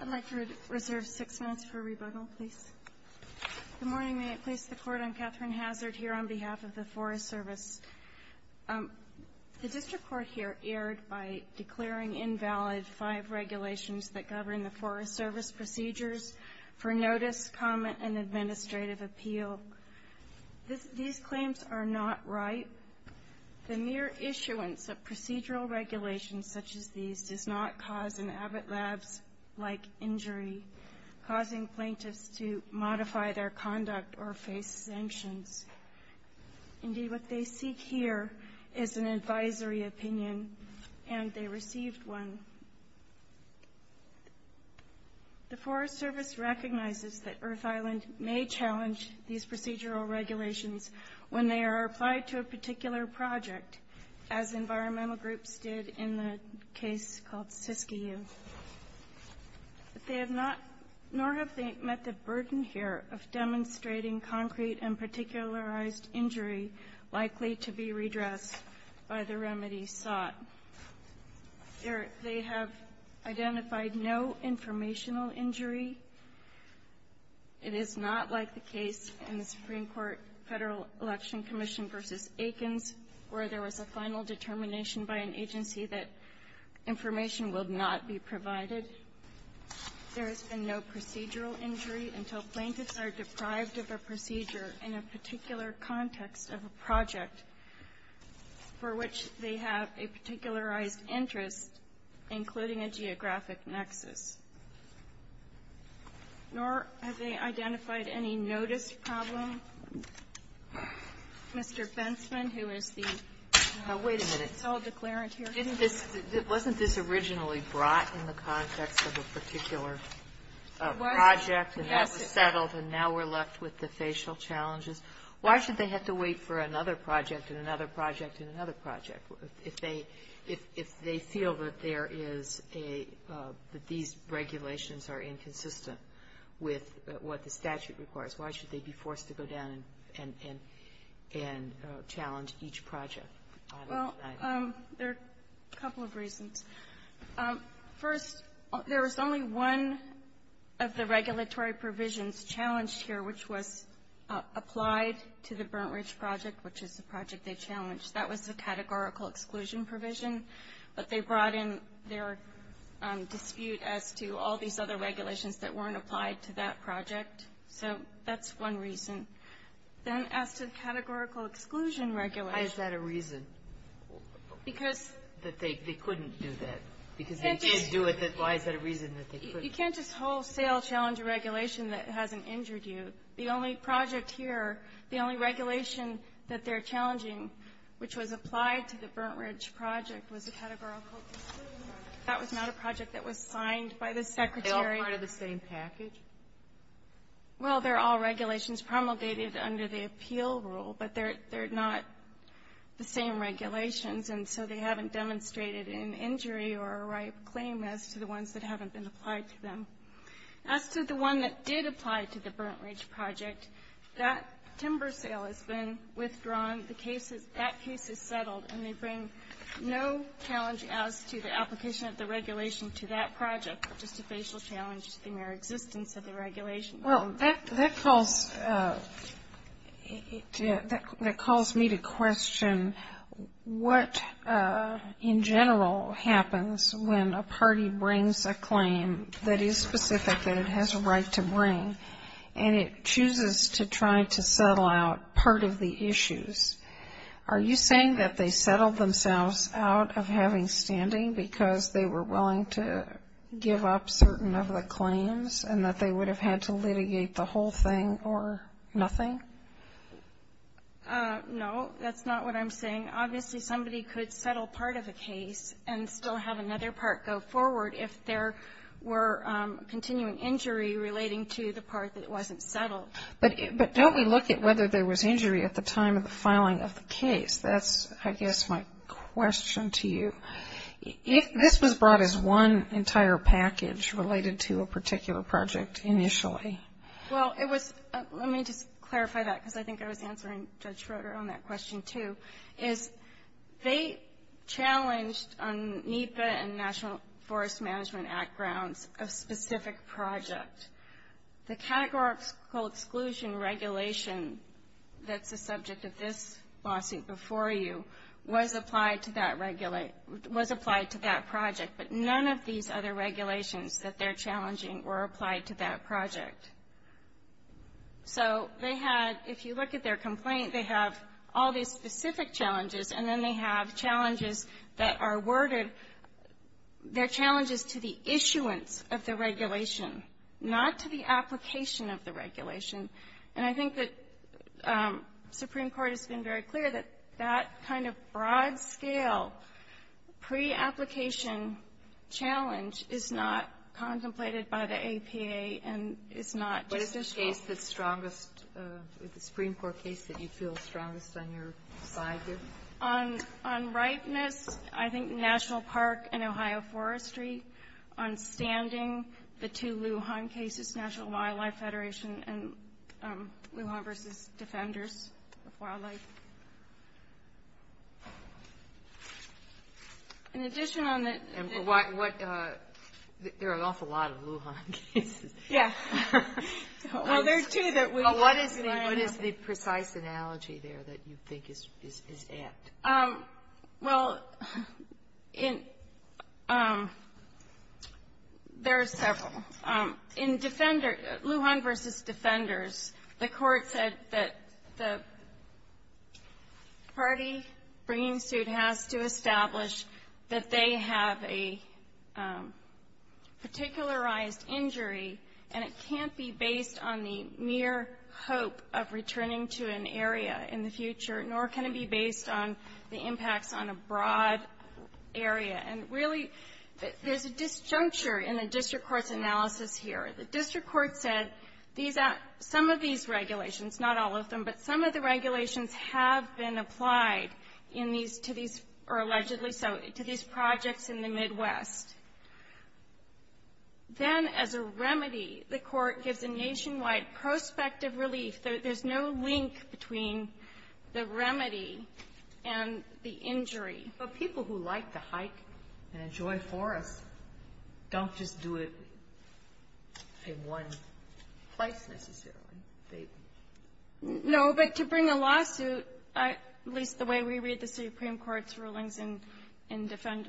I'd like to reserve six minutes for rebuttal, please. Good morning. May I place the court on Catherine Hazard here on behalf of the Forest Service? The District Court here erred by declaring invalid five regulations that govern the Forest Service procedures for notice, comment, and administrative appeal. These claims are not right. The mere issuance of procedural regulations such as these does not cause an Abbott Labs-like injury, causing plaintiffs to modify their conduct or face sanctions. Indeed, what they seek here is an advisory opinion, and they received one. The Forest Service recognizes that Earth Island may challenge these procedural regulations when they are applied to a particular project, as environmental groups did in the case called Siskiyou. But they have not, nor have they met the burden here of demonstrating concrete and particularized injury likely to be redressed by the remedy sought. They have identified no informational injury. It is not like the case in the Supreme Court Federal Election Commission v. Akins, where there was a final determination by an agency that information will not be provided. There has been no procedural injury until plaintiffs are deprived of a procedure in a particular context of a project for which they have a particularized interest, including a geographic nexus. Nor have they identified any notice problem. Kagan. Mr. Fensman, who is the so-called declarant here. Kagan. Wait a minute. Wasn't this originally brought in the context of a particular project, and that was settled, and now we're left with the facial challenges? Why should they have to wait for another project and another project and another project if they feel that there is a – that these regulations are inconsistent with what the statute requires? Why should they be forced to go down and challenge each project? Well, there are a couple of reasons. First, there was only one of the regulatory provisions challenged here, which was applied to the Burnt Ridge Project, which is the project they challenged. That was the categorical exclusion provision. But they brought in their dispute as to all these other regulations that weren't applied to that project. So that's one reason. Then as to the categorical exclusion regulation. Why is that a reason? Because they couldn't do that because they can't do it. Why is that a reason that they couldn't? You can't just wholesale challenge a regulation that hasn't injured you. The only project here, the only regulation that they're challenging, which was applied to the Burnt Ridge Project, was a categorical exclusion. That was not a project that was signed by the Secretary. Are they all part of the same package? Well, they're all regulations promulgated under the appeal rule, but they're not the same regulations, and so they haven't demonstrated an injury or a right of claim as to the ones that haven't been applied to them. As to the one that did apply to the Burnt Ridge Project, that timber sale has been withdrawn. The case is — that case is settled, and they bring no challenge as to the application of the regulation to that project, just a facial challenge to the mere existence of the regulation. Well, that calls me to question what, in general, happens when a party brings a claim that is specific that it has a right to bring, and it chooses to try to settle out part of the issues. Are you saying that they settled themselves out of having standing because they were willing to give up certain of the claims and that they would have had to litigate the whole thing or nothing? No, that's not what I'm saying. Obviously, somebody could settle part of a case and still have another part go forward if there were continuing injury relating to the part that wasn't settled. But don't we look at whether there was injury at the time of the filing of the case? That's, I guess, my question to you. This was brought as one entire package related to a particular project initially. Well, it was — let me just clarify that, because I think I was answering Judge Schroeder on that question, too, is they challenged on NEPA and National Forest Management Act grounds a specific project. The categorical exclusion regulation that's the subject of this lawsuit before you was applied to that project, but none of these other regulations that they're challenging were applied to that project. So they had — if you look at their complaint, they have all these specific challenges, and then they have challenges that are worded. Their challenge is to the issuance of the regulation, not to the application of the regulation. And I think that Supreme Court has been very clear that that kind of broad-scale pre-application challenge is not contemplated by the APA and is not just issued. What is the case that's strongest, the Supreme Court case that you feel is strongest on your side here? On ripeness, I think National Park and Ohio Forestry. On standing, the two Lujan cases, National Wildlife Federation and Lujan v. Defenders of Wildlife. In addition on the — What — there are an awful lot of Lujan cases. Yeah. Well, there are two that we — Well, what is the precise analogy there that you think is apt? Well, in — there are several. In Lujan v. Defenders, the Court said that the party bringing suit has to establish that they have a particularized injury, and it can't be based on the mere hope of returning to an area in the future, nor can it be based on the impacts on a broad area. And really, there's a disjuncture in the district court's analysis here. The district court said these — some of these regulations, not all of them, but some of the regulations have been applied in these — to these — or allegedly so, to these projects in the Midwest. Then, as a remedy, the Court gives a nationwide prospective relief. There's no link between the remedy and the injury. But people who like to hike and enjoy forests don't just do it in one place, necessarily. No. But to bring a lawsuit, at least the way we read the Supreme Court's rulings in Lujan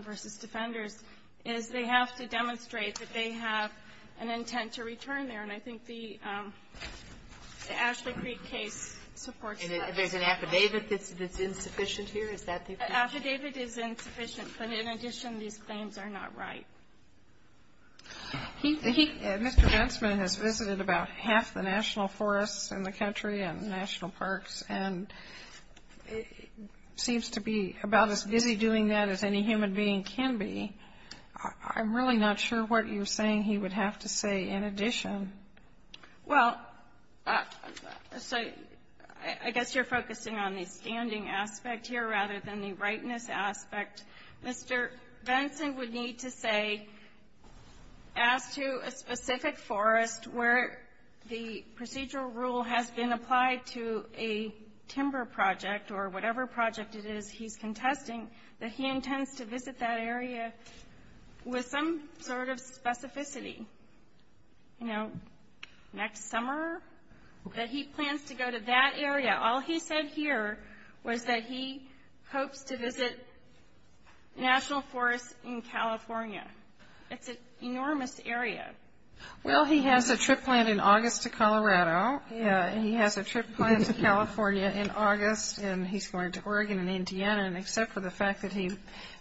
v. Defenders, is they have to demonstrate that they have an intent to return there, and I think the Ashley Creek case supports that. And there's an affidavit that's insufficient here? Affidavit is insufficient, but in addition, these claims are not right. Mr. Bensman has visited about half the national forests in the country and national parks and seems to be about as busy doing that as any human being can be. I'm really not sure what you're saying he would have to say in addition. Well, so I guess you're focusing on the standing aspect here rather than the rightness aspect. Mr. Bensman would need to say, as to a specific forest where the procedural rule has been applied to a timber project or whatever project it is he's contesting, that he intends to visit that area with some sort of specificity, you know, next summer, that he plans to go to that area. All he said here was that he hopes to visit national forests in California. It's an enormous area. Well, he has a trip planned in August to Colorado, and he has a trip planned to California in August, and he's going to Oregon and Indiana, and except for the fact that he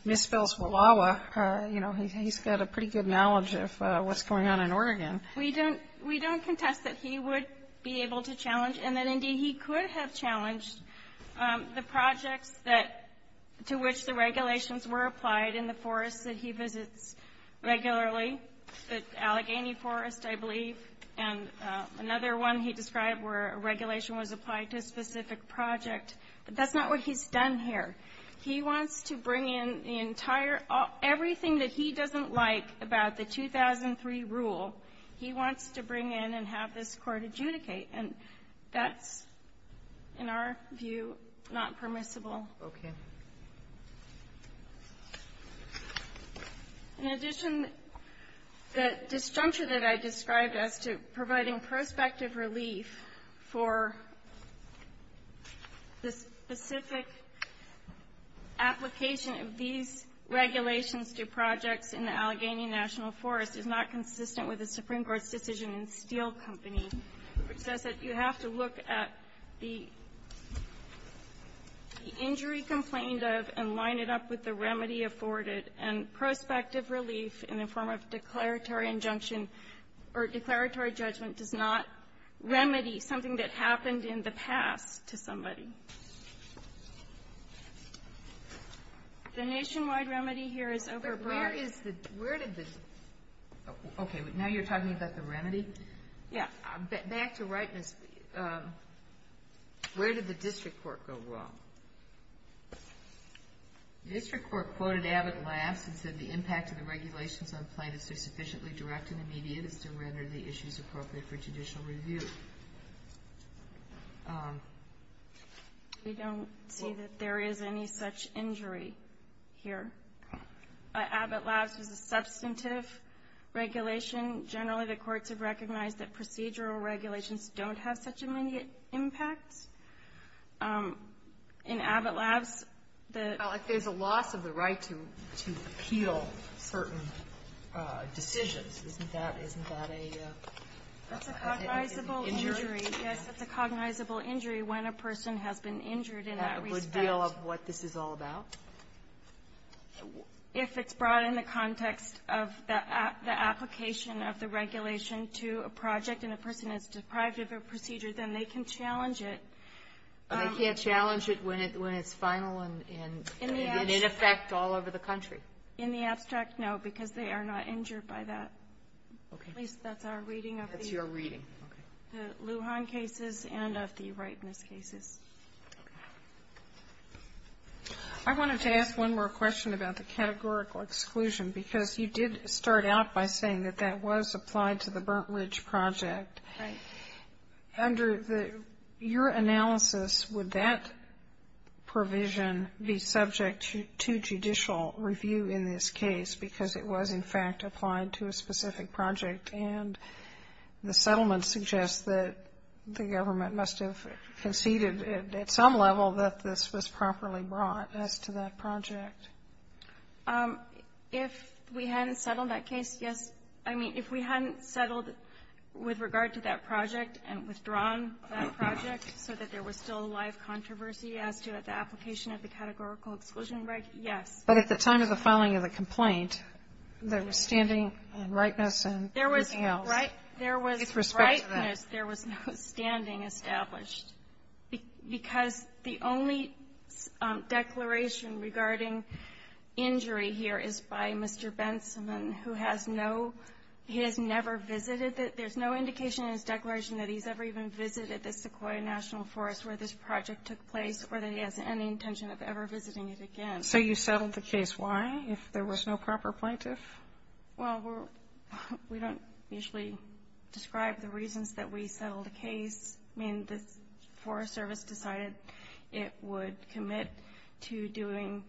misspells Wallowa, you know, he's got a pretty good knowledge of what's going on in Oregon. We don't contest that he would be able to challenge, and that indeed he could have challenged, the projects to which the regulations were applied in the forests that he visits regularly, the Allegheny Forest, I believe, and another one he described where a regulation was applied to a specific project, but that's not what he's done here. He wants to bring in the entire, everything that he doesn't like about the 2003 rule, he wants to bring in and have this court adjudicate, and that's, in our view, not permissible. Okay. In addition, the disjuncture that I described as to providing prospective relief for the specific application of these regulations to projects in the Allegheny National Forest is not consistent with the Supreme Court's decision in Steel Company, which says that you have to look at the injury complained of and line it up with the remedy afforded, and prospective relief in the form of declaratory injunction or declaratory judgment does not remedy something that happened in the past to somebody. The nationwide remedy here is overbroad. Where is the, where did the, okay. Now you're talking about the remedy? Yeah. Back to rightness, where did the district court go wrong? The district court quoted Abbott Labs and said the impact of the regulations on plaintiffs are sufficiently direct and immediate as to whether the issue is appropriate for judicial review. We don't see that there is any such injury here. Abbott Labs was a substantive regulation. Generally, the courts have recognized that procedural regulations don't have such immediate impacts. In Abbott Labs, the ---- Well, if there's a loss of the right to appeal certain decisions, isn't that, isn't that a ---- That's a cognizable injury. Yes, that's a cognizable injury when a person has been injured in that respect. Is that a good deal of what this is all about? If it's brought in the context of the application of the regulation to a project and a person is deprived of a procedure, then they can challenge it. They can't challenge it when it's final and in effect all over the country. In the abstract, no, because they are not injured by that. Okay. At least that's our reading of the ---- That's your reading. Okay. The Lujan cases and of the rightness cases. Okay. I wanted to ask one more question about the categorical exclusion because you did start out by saying that that was applied to the Burnt Ridge Project. Right. Under your analysis, would that provision be subject to judicial review in this case because it was, in fact, applied to a specific project and the settlement suggests that the government must have conceded at some level that this was properly brought as to that project? If we hadn't settled that case, yes. I mean, if we hadn't settled with regard to that project and withdrawn that project so that there was still a live controversy as to the application of the categorical exclusion, yes. But at the time of the filing of the complaint, there was standing and rightness and ---- There was rightness. There was no standing established. Because the only declaration regarding injury here is by Mr. Bensimon, who has no ---- he has never visited. There's no indication in his declaration that he's ever even visited the Sequoia National Forest where this project took place or that he has any intention of ever visiting it again. So you settled the case. Why? If there was no proper plaintiff? Well, we don't usually describe the reasons that we settled the case. I mean, the Forest Service decided it would commit to doing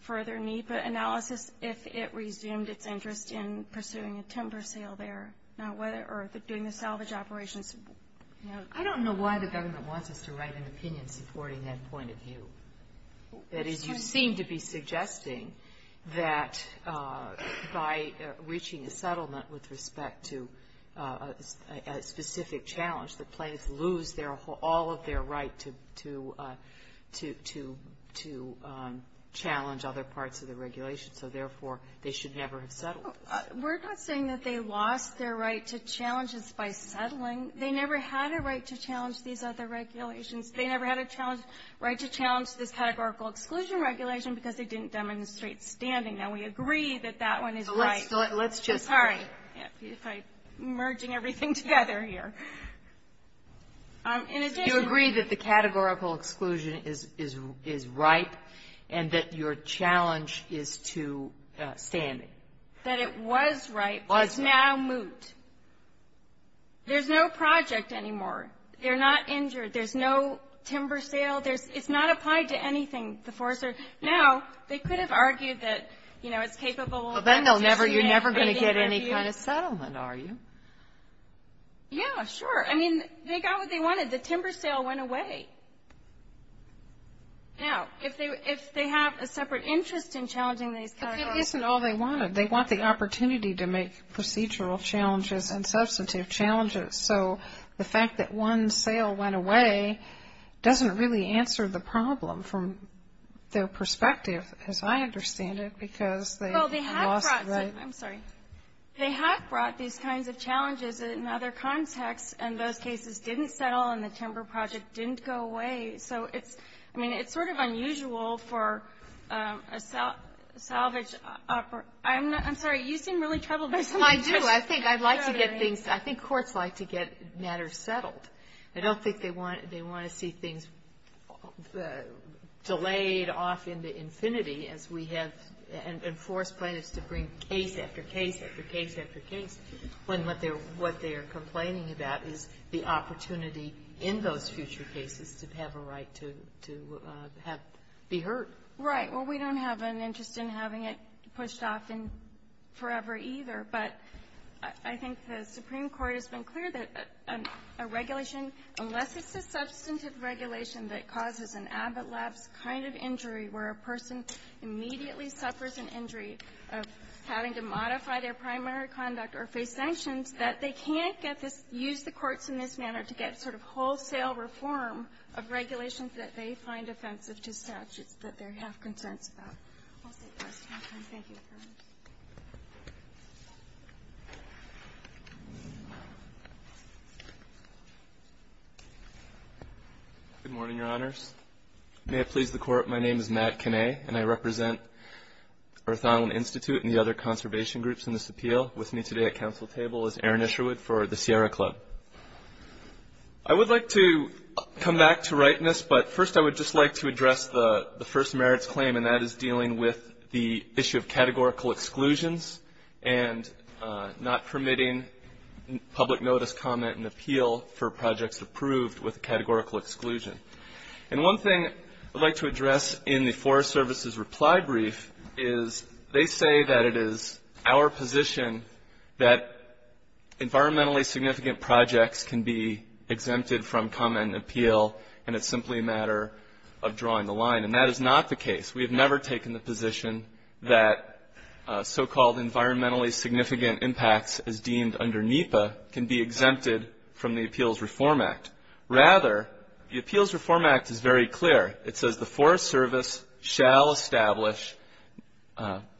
further NEPA analysis if it resumed its interest in pursuing a timber sale there or doing the salvage operations. I don't know why the government wants us to write an opinion supporting that point of view. That is, you seem to be suggesting that by reaching a settlement with respect to a specific challenge, the plaintiffs lose their whole ---- all of their right to challenge other parts of the regulation. So, therefore, they should never have settled this. We're not saying that they lost their right to challenge this by settling. They never had a right to challenge these other regulations. They never had a right to challenge this categorical exclusion regulation because they didn't demonstrate standing. Now, we agree that that one is right. Let's just ---- Sorry. I'm merging everything together here. In addition ---- You agree that the categorical exclusion is right and that your challenge is to standing. That it was right, but it's now moot. There's no project anymore. They're not injured. There's no timber sale. It's not applied to anything, the forester. Now, they could have argued that, you know, it's capable of ---- Well, then you're never going to get any kind of settlement, are you? Yeah, sure. I mean, they got what they wanted. The timber sale went away. Now, if they have a separate interest in challenging these categories ---- But that isn't all they wanted. They want the opportunity to make procedural challenges and substantive challenges. So the fact that one sale went away doesn't really answer the problem from their perspective, as I understand it, because they lost the right ---- Well, they have brought ---- I'm sorry. They have brought these kinds of challenges in other contexts, and those cases didn't settle and the timber project didn't go away. So it's ---- I mean, it's sort of unusual for a salvage ---- I'm sorry, you seem really troubled. I do. I think I'd like to get things ---- I think courts like to get matters settled. I don't think they want to see things delayed off into infinity as we have enforced plaintiffs to bring case after case after case after case when what they're complaining about is the opportunity in those future cases to have a right to be heard. Right. Well, we don't have an interest in having it pushed off forever either, but I think the Supreme Court has been clear that a regulation, unless it's a substantive regulation that causes an ablapse kind of injury where a person immediately suffers an injury of having to modify their primary conduct or face sanctions, that they can't get this ---- use the courts in this manner to get sort of wholesale reform of regulations that they find offensive to statutes that they have concerns about. I'll take the rest of my time. Thank you. Good morning, Your Honors. May it please the Court, my name is Matt Kinney, and I represent Earth Island Institute and the other conservation groups in this appeal. With me today at council table is Aaron Isherwood for the Sierra Club. I would like to come back to rightness, but first I would just like to address the issue of categorical exclusions and not permitting public notice, comment, and appeal for projects approved with a categorical exclusion. And one thing I'd like to address in the Forest Service's reply brief is they say that it is our position that environmentally significant projects can be exempted from comment and appeal and it's simply a matter of drawing the line. And that is not the case. We have never taken the position that so-called environmentally significant impacts as deemed under NEPA can be exempted from the Appeals Reform Act. Rather, the Appeals Reform Act is very clear. It says the Forest Service shall establish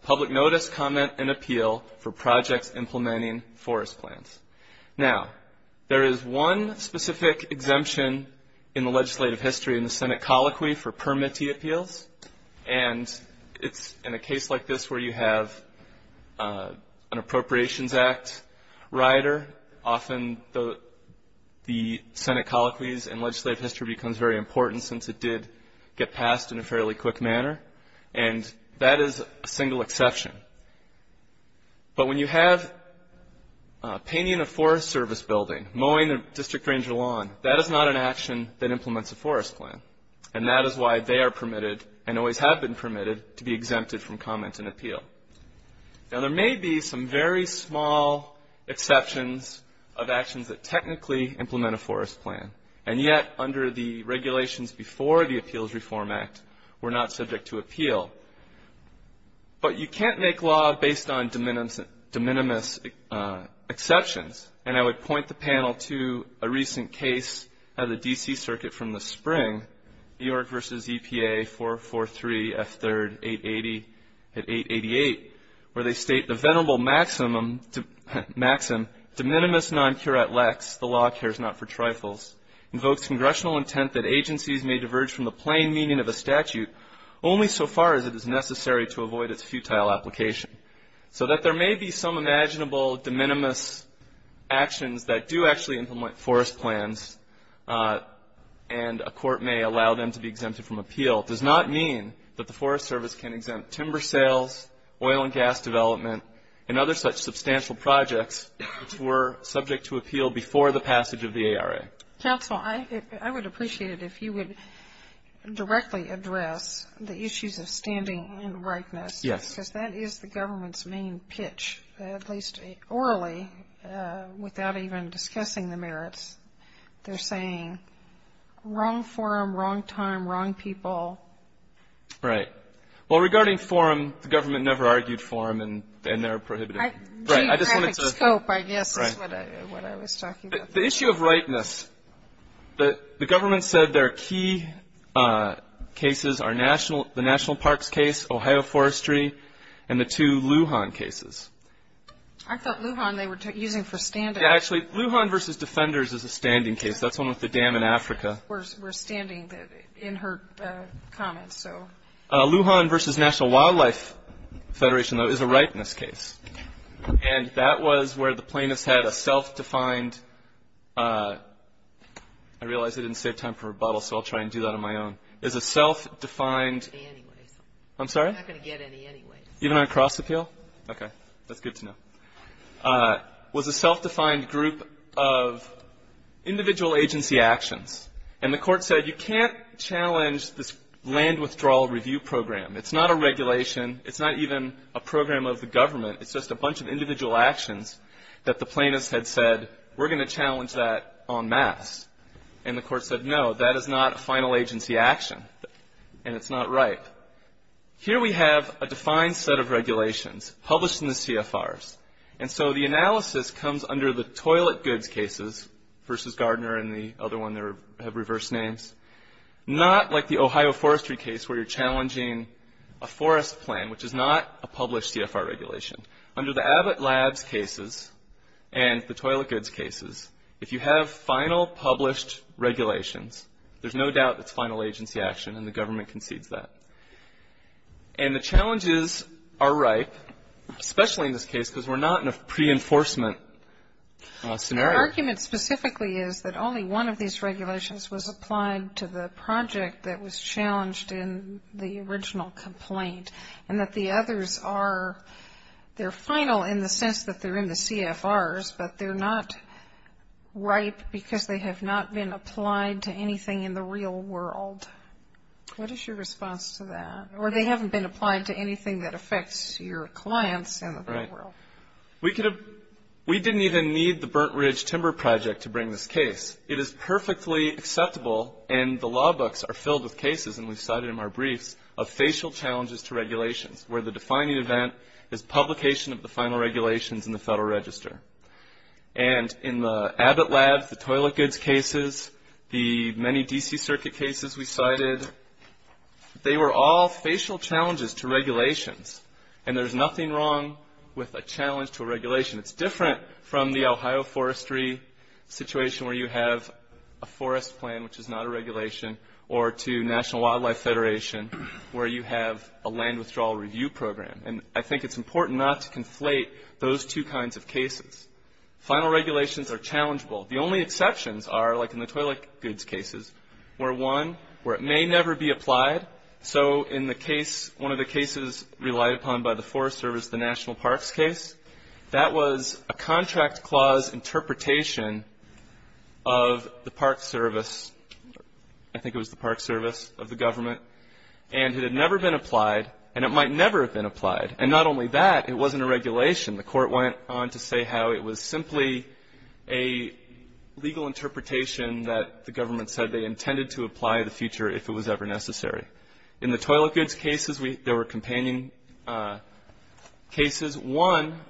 public notice, comment, and appeal for projects implementing forest plans. Now, there is one specific exemption in the legislative history in the Senate colloquy for permittee appeals, and it's in a case like this where you have an Appropriations Act rider, often the Senate colloquies in legislative history becomes very important since it did get passed in a fairly quick manner, and that is a single exception. But when you have painting a Forest Service building, mowing the district ranger lawn, that is not an action that implements a forest plan, and that is why they are permitted and always have been permitted to be exempted from comment and appeal. Now, there may be some very small exceptions of actions that technically implement a forest plan, and yet under the regulations before the Appeals Reform Act, we're not subject to appeal. But you can't make law based on de minimis exceptions, and I would point the panel to a recent case of the D.C. Circuit from the spring, New York v. EPA 443 F3 888, where they state the venerable maxim, de minimis non curat lex, the law cares not for trifles, invokes congressional intent that agencies may diverge from the plain meaning of a statute only so far as it is necessary to avoid its futile application. So that there may be some imaginable de minimis actions that do actually implement forest plans, and a court may allow them to be exempted from appeal, does not mean that the Forest Service can exempt timber sales, oil and gas development, and other such substantial projects which were subject to appeal before the passage of the ARA. Counsel, I would appreciate it if you would directly address the issues of standing and rightness. Yes. Because that is the government's main pitch, at least orally, without even discussing the merits. They're saying wrong forum, wrong time, wrong people. Right. Well, regarding forum, the government never argued forum, and they're prohibited. Geographic scope, I guess, is what I was talking about. The issue of rightness, the government said their key cases are the National Parks case, Ohio Forestry, and the two Lujan cases. I thought Lujan they were using for standing. Yeah, actually, Lujan versus Defenders is a standing case. That's the one with the dam in Africa. We're standing in her comments, so. Lujan versus National Wildlife Federation, though, is a rightness case. And that was where the plaintiffs had a self-defined, I realize I didn't save time for rebuttal, so I'll try and do that on my own, is a self-defined. I'm not going to get any anyways. I'm sorry? I'm not going to get any anyways. Even on a cross-appeal? Okay. That's good to know. Was a self-defined group of individual agency actions. And the Court said you can't challenge this land withdrawal review program. It's not a regulation. It's not even a program of the government. It's just a bunch of individual actions that the plaintiffs had said we're going to challenge that en masse. And the Court said, no, that is not a final agency action. And it's not right. Here we have a defined set of regulations published in the CFRs. And so the analysis comes under the toilet goods cases versus Gardner and the other one that have reverse names. Not like the Ohio forestry case where you're challenging a forest plan, which is not a published CFR regulation. Under the Abbott Labs cases and the toilet goods cases, if you have final published regulations, there's no doubt it's final agency action and the government concedes that. And the challenges are ripe, especially in this case because we're not in a pre-enforcement scenario. The argument specifically is that only one of these regulations was applied to the project that was challenged in the original complaint and that the others are, they're final in the sense that they're in the CFRs, but they're not ripe because they have not been applied to anything in the real world. What is your response to that? Or they haven't been applied to anything that affects your clients in the real world. We didn't even need the Burnt Ridge Timber Project to bring this case. It is perfectly acceptable, and the law books are filled with cases, and we've cited them in our briefs, of facial challenges to regulations where the defining event is publication of the final regulations in the Federal Register. And in the Abbott Labs, the toilet goods cases, the many D.C. Circuit cases we cited, they were all facial challenges to regulations, and there's nothing wrong with a challenge to a regulation. It's different from the Ohio forestry situation where you have a forest plan, which is not a regulation, or to National Wildlife Federation where you have a land withdrawal review program. And I think it's important not to conflate those two kinds of cases. Final regulations are challengeable. The only exceptions are, like in the toilet goods cases, where one, where it may never be applied. So in the case, one of the cases relied upon by the Forest Service, the National Parks case, that was a contract clause interpretation of the Park Service. I think it was the Park Service of the government. And it had never been applied, and it might never have been applied. And not only that, it wasn't a regulation. The Court went on to say how it was simply a legal interpretation that the government said they intended to apply in the future if it was ever necessary. In the toilet goods cases, there were companion cases. One,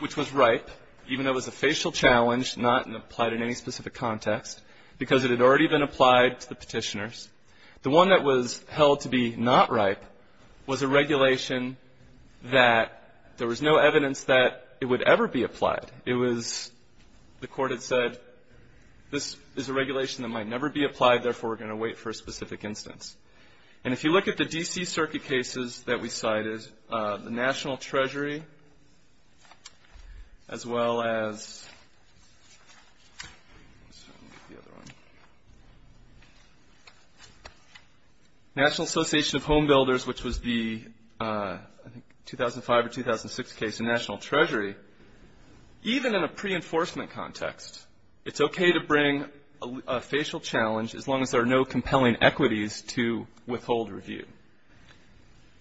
which was ripe, even though it was a facial challenge, not applied in any specific context, because it had already been applied to the petitioners. The one that was held to be not ripe was a regulation that there was no evidence that it would ever be applied. It was, the Court had said, this is a regulation that might never be applied, therefore we're going to wait for a specific instance. And if you look at the D.C. Circuit cases that we cited, the National Treasury, as well as National Association of Home Builders, which was the 2005 or 2006 case in National Treasury, even in a pre-enforcement context, it's okay to bring a facial challenge, as long as there are no compelling equities to withhold review.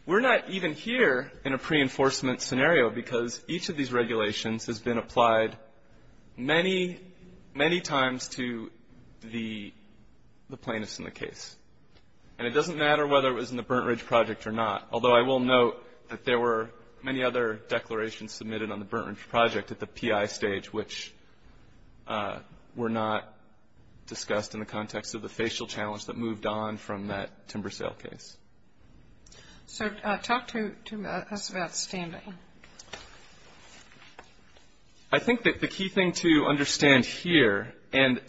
We're not even here in a pre-enforcement scenario, because each of these regulations has been applied many, many times to the plaintiffs in the case. And it doesn't matter whether it was in the Burnt Ridge Project or not, although I will note that there were many other declarations submitted on the Burnt Ridge Project at the PI stage, which were not discussed in the context of the facial challenge that moved on from that timber sale case. So talk to us about standing. I think that the key thing to understand here, and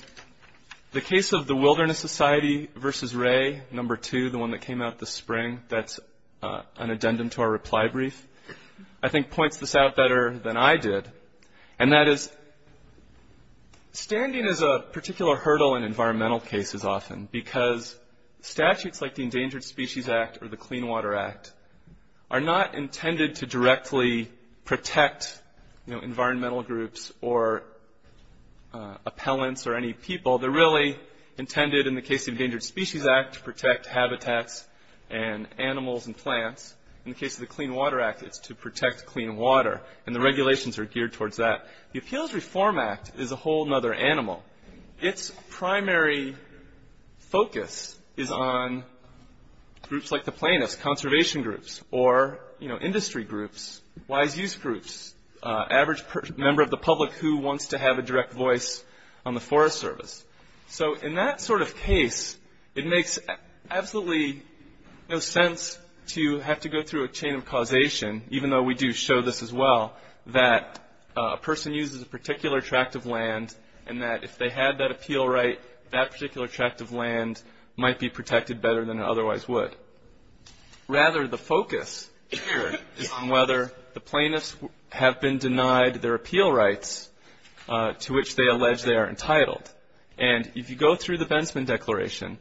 the case of the Wilderness Society v. Ray, number two, the one that came out this spring, that's an addendum to our reply brief, I think points this out better than I did. And that is standing is a particular hurdle in environmental cases often, because statutes like the Endangered Species Act or the Clean Water Act are not intended to directly protect environmental groups or appellants or any people. They're really intended, in the case of the Endangered Species Act, to protect habitats and animals and plants. In the case of the Clean Water Act, it's to protect clean water. And the regulations are geared towards that. The Appeals Reform Act is a whole other animal. Its primary focus is on groups like the plaintiffs, conservation groups or, you know, industry groups, wise use groups, average member of the public who wants to have a direct voice on the Forest Service. So in that sort of case, it makes absolutely no sense to have to go through a chain of causation, even though we do show this as well, that a person uses a particular tract of land and that if they had that appeal right, that particular tract of land might be protected better than it otherwise would. Rather, the focus is on whether the plaintiffs have been denied their appeal rights to which they allege they are entitled. And if you go through the Bensman Declaration,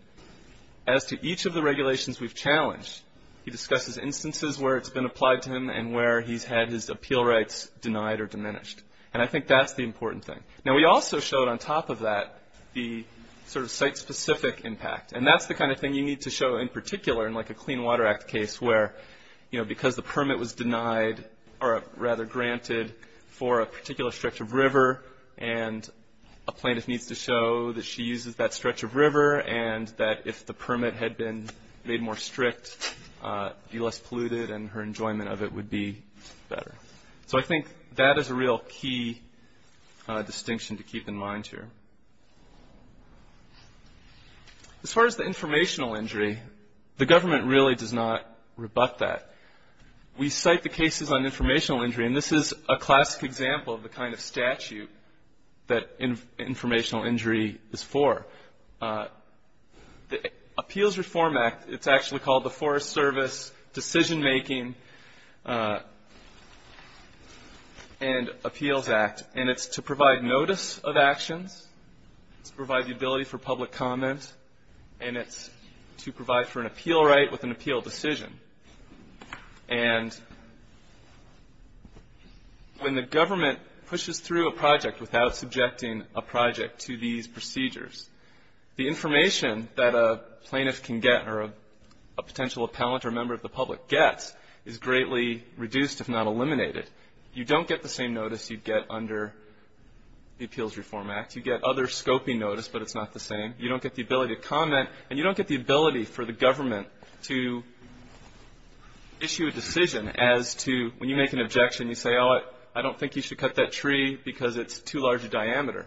as to each of the regulations we've challenged, he discusses instances where it's been applied to him and where he's had his appeal rights denied or diminished. And I think that's the important thing. Now, we also showed on top of that the sort of site-specific impact. And that's the kind of thing you need to show in particular in like a Clean Water Act case where, you know, because the permit was denied or rather granted for a particular stretch of river and a plaintiff needs to show that she uses that stretch of river and that if the permit had been made more strict, be less polluted and her enjoyment of it would be better. So I think that is a real key distinction to keep in mind here. As far as the informational injury, the government really does not rebut that. We cite the cases on informational injury, and this is a classic example of the kind of statute that informational injury is for. The Appeals Reform Act, it's actually called the Forest Service Decision-Making and Appeals Act, and it's to provide notice of actions, to provide the ability for public comment, and it's to provide for an appeal right with an appeal decision. And when the government pushes through a project without subjecting a project to these procedures, the information that a plaintiff can get or a potential appellant or member of the public gets is greatly reduced, if not eliminated. You don't get the same notice you'd get under the Appeals Reform Act. You get other scoping notice, but it's not the same. You don't get the ability to comment, and you don't get the ability for the government to issue a decision as to, when you make an objection, you say, oh, I don't think you should cut that tree because it's too large a diameter.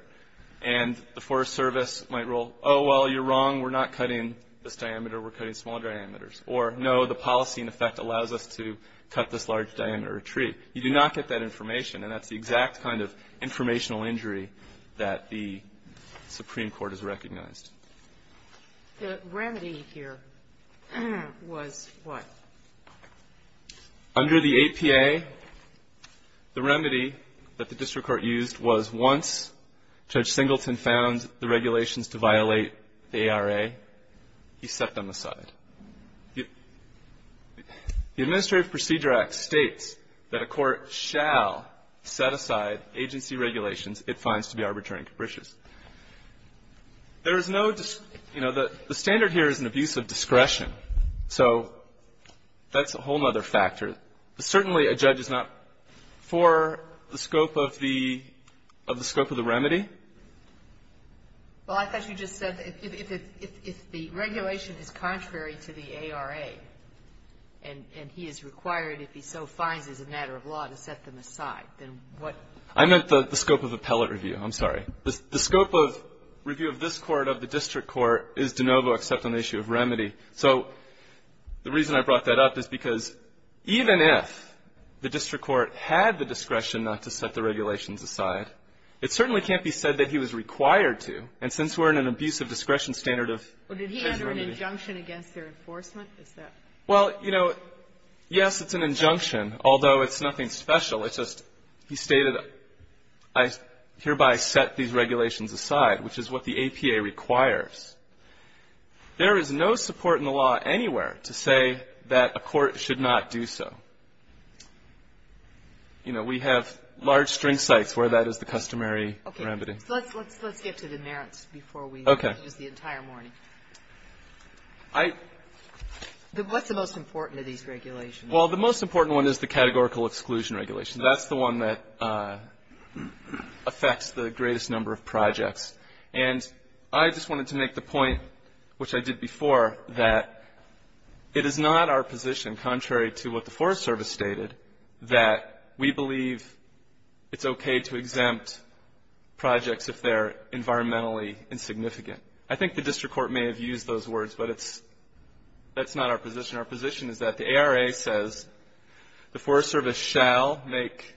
And the Forest Service might rule, oh, well, you're wrong. We're not cutting this diameter. We're cutting small diameters. Or, no, the policy, in effect, allows us to cut this large diameter of tree. You do not get that information. And that's the exact kind of informational injury that the Supreme Court has recognized. The remedy here was what? Under the APA, the remedy that the district court used was once Judge Singleton found the regulations to violate the ARA, he set them aside. The Administrative Procedure Act states that a court shall set aside agency regulations it finds to be arbitrary and capricious. There is no, you know, the standard here is an abuse of discretion. So that's a whole other factor. But certainly a judge is not for the scope of the scope of the remedy. Well, I thought you just said if the regulation is contrary to the ARA and he is required if he so finds it a matter of law to set them aside, then what? I meant the scope of appellate review. I'm sorry. The scope of review of this Court, of the district court, is de novo except on the issue of remedy. So the reason I brought that up is because even if the district court had the discretion not to set the remedy, he said that he was required to. And since we're in an abuse of discretion standard of remedy. But did he enter an injunction against their enforcement? Is that? Well, you know, yes, it's an injunction, although it's nothing special. It's just he stated, I hereby set these regulations aside, which is what the APA requires. There is no support in the law anywhere to say that a court should not do so. You know, we have large string sites where that is the customary remedy. Okay. Let's get to the merits before we use the entire morning. Okay. I — What's the most important of these regulations? Well, the most important one is the categorical exclusion regulation. That's the one that affects the greatest number of projects. And I just wanted to make the point, which I did before, that it is not our position, contrary to what the Forest Service stated, that we believe it's okay to exempt projects if they're environmentally insignificant. I think the district court may have used those words, but that's not our position. Our position is that the ARA says the Forest Service shall make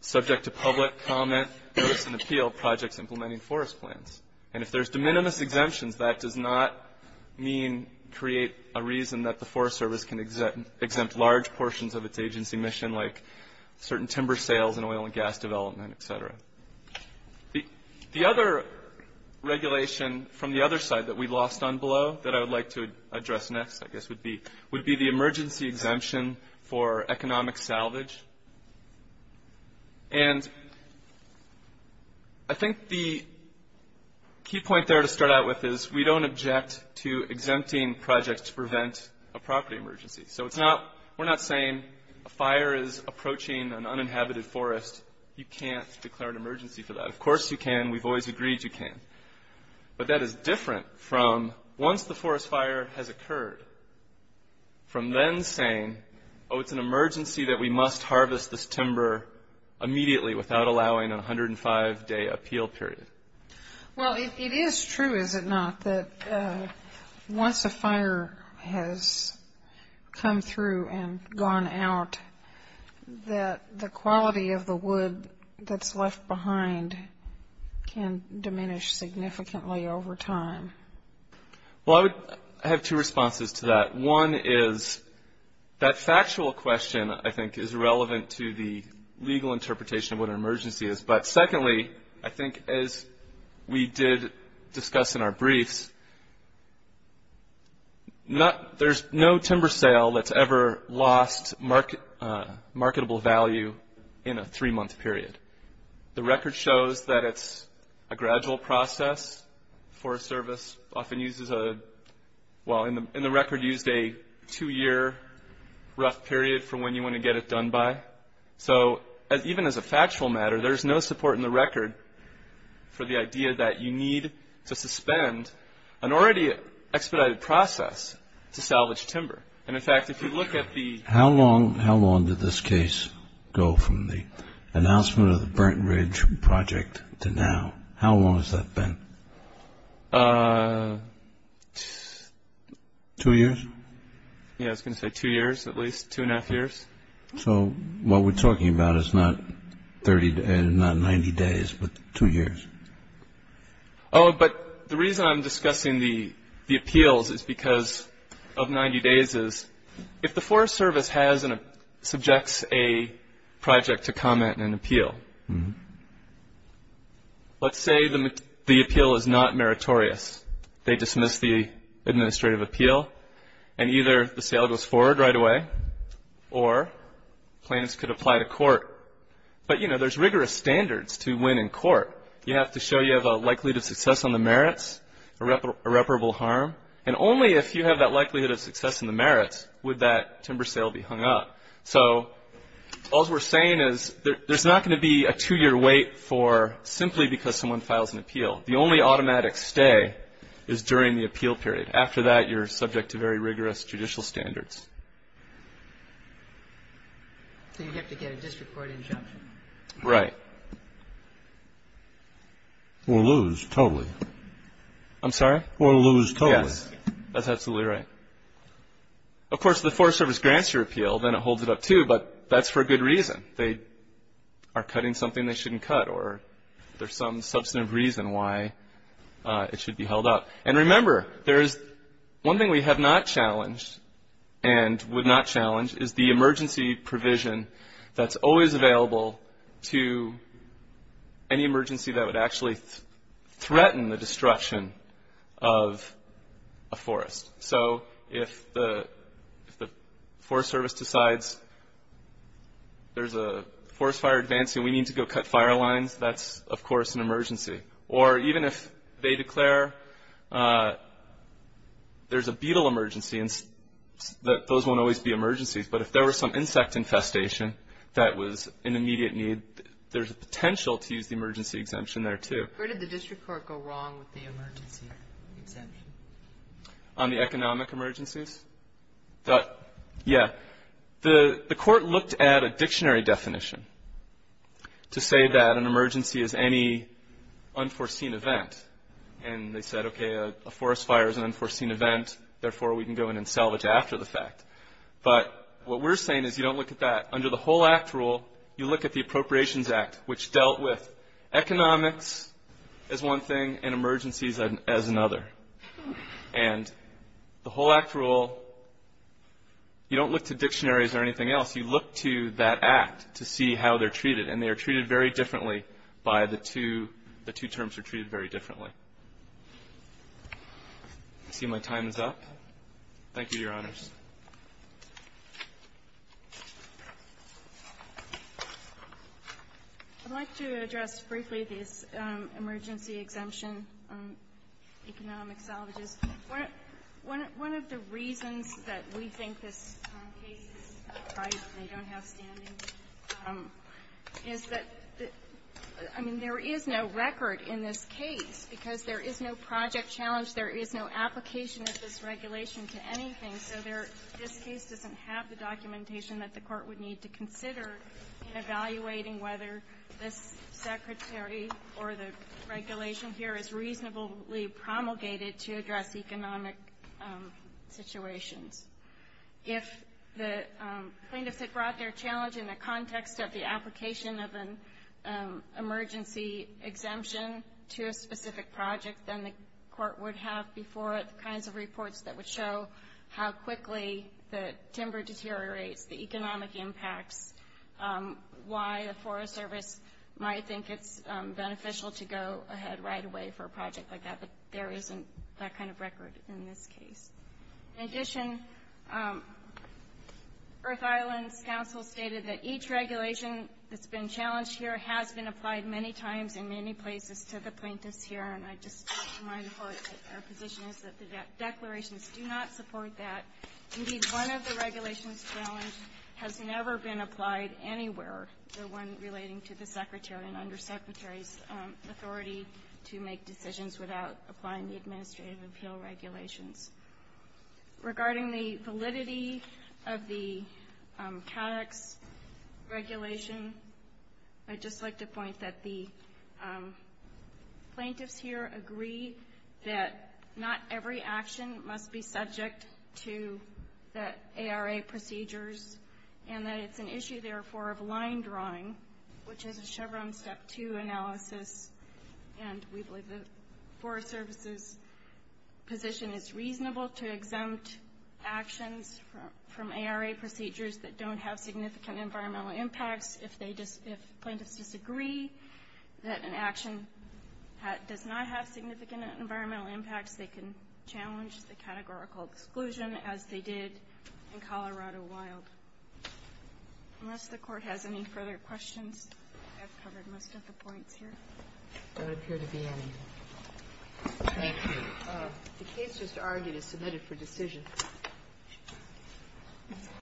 subject to public comment, notice, and appeal projects implementing forest plans. And if there's de minimis exemptions, that does not mean create a reason that the Forest Service can exempt large portions of its agency mission like certain timber sales and oil and gas development, et cetera. The other regulation from the other side that we lost on below that I would like to address next, I guess, would be the emergency exemption for economic salvage. And I think the key point there to start out with is we don't object to exempting projects to prevent a property emergency. So we're not saying a fire is approaching an uninhabited forest. You can't declare an emergency for that. Of course you can. We've always agreed you can. But that is different from once the forest fire has occurred, from then saying, oh, it's an emergency that we must harvest this timber immediately without allowing a 105-day appeal period. Well, it is true, is it not, that once a fire has come through and gone out, that the quality of the wood that's left behind can diminish significantly over time. Well, I would have two responses to that. One is that factual question, I think, is relevant to the legal interpretation of what an emergency is. But secondly, I think as we did discuss in our briefs, there's no timber sale that's ever lost marketable value in a three-month period. The record shows that it's a gradual process for a service, often uses a – well, in the record used a two-year rough period for when you want to get it done by. So even as a factual matter, there's no support in the record for the idea that you need to suspend an already expedited process to salvage timber. And, in fact, if you look at the – How long did this case go from the announcement of the Burnt Ridge Project to now? How long has that been? Two years? Yeah, I was going to say two years at least, two and a half years. So what we're talking about is not 30 – not 90 days, but two years. Oh, but the reason I'm discussing the appeals is because of 90 days is, if the Forest Service has and subjects a project to comment and appeal, let's say the appeal is not meritorious. They dismiss the administrative appeal and either the sale goes forward right away or plaintiffs could apply to court. But, you know, there's rigorous standards to win in court. You have to show you have a likelihood of success on the merits, irreparable harm. And only if you have that likelihood of success in the merits would that timber sale be hung up. So all we're saying is there's not going to be a two-year wait for simply because someone files an appeal. The only automatic stay is during the appeal period. After that, you're subject to very rigorous judicial standards. So you have to get a district court injunction. Right. Or lose totally. I'm sorry? Or lose totally. Yes, that's absolutely right. Of course, if the Forest Service grants your appeal, then it holds it up too, but that's for a good reason. They are cutting something they shouldn't cut or there's some substantive reason why it should be held up. And remember, there is one thing we have not challenged and would not challenge is the emergency provision that's always available to any emergency that would actually threaten the destruction of a forest. So if the Forest Service decides there's a forest fire advancing, we need to go cut fire lines, that's, of course, an emergency. Or even if they declare there's a beetle emergency, those won't always be emergencies. But if there were some insect infestation that was an immediate need, there's a potential to use the emergency exemption there too. Where did the district court go wrong with the emergency exemption? On the economic emergencies? Yeah. The court looked at a dictionary definition to say that an emergency is any unforeseen event. And they said, okay, a forest fire is an unforeseen event, therefore, we can go in and salvage after the fact. But what we're saying is you don't look at that. Under the whole Act rule, you look at the Appropriations Act, which dealt with economics as one thing and emergencies as another. And the whole Act rule, you don't look to dictionaries or anything else. You look to that Act to see how they're treated. And they are treated very differently by the two terms are treated very differently. I see my time is up. Thank you, Your Honors. I'd like to address briefly this emergency exemption on economic salvages. One of the reasons that we think this case is prized and they don't have standing is that, I mean, there is no record in this case because there is no project challenge, there is no application of this regulation to anything. So this case doesn't have the documentation that the court would need to consider in evaluating whether this Secretary or the regulation here is reasonably promulgated to address economic situations. If the plaintiffs had brought their challenge in the context of the application of an emergency exemption to a specific project, then the court would have before it the kinds of reports that would show how quickly the timber deteriorates, the economic impacts, why the Forest Service might think it's beneficial to go ahead right away for a project like that. But there isn't that kind of record in this case. In addition, Earth Islands Council stated that each regulation that's been challenged here has been applied many times in many places to the plaintiffs here, and I just want to remind the court that our position is that the declarations do not support that. Indeed, one of the regulations challenged has never been applied anywhere, the one relating to the Secretary and Undersecretary's authority to make decisions without applying the administrative appeal regulations. Regarding the validity of the CADOX regulation, I'd just like to point that the plaintiffs here agree that not every action must be subject to the ARA procedures and that it's an issue, therefore, of line drawing, which is a Chevron Step 2 analysis, and we believe the Forest Service's position is reasonable to exempt actions from ARA procedures that don't have significant environmental impacts. If plaintiffs disagree that an action does not have significant environmental impacts, they can challenge the categorical exclusion as they did in Colorado Wild. Unless the Court has any further questions, I've covered most of the points here. There don't appear to be any. Thank you. The case just argued is submitted for decision.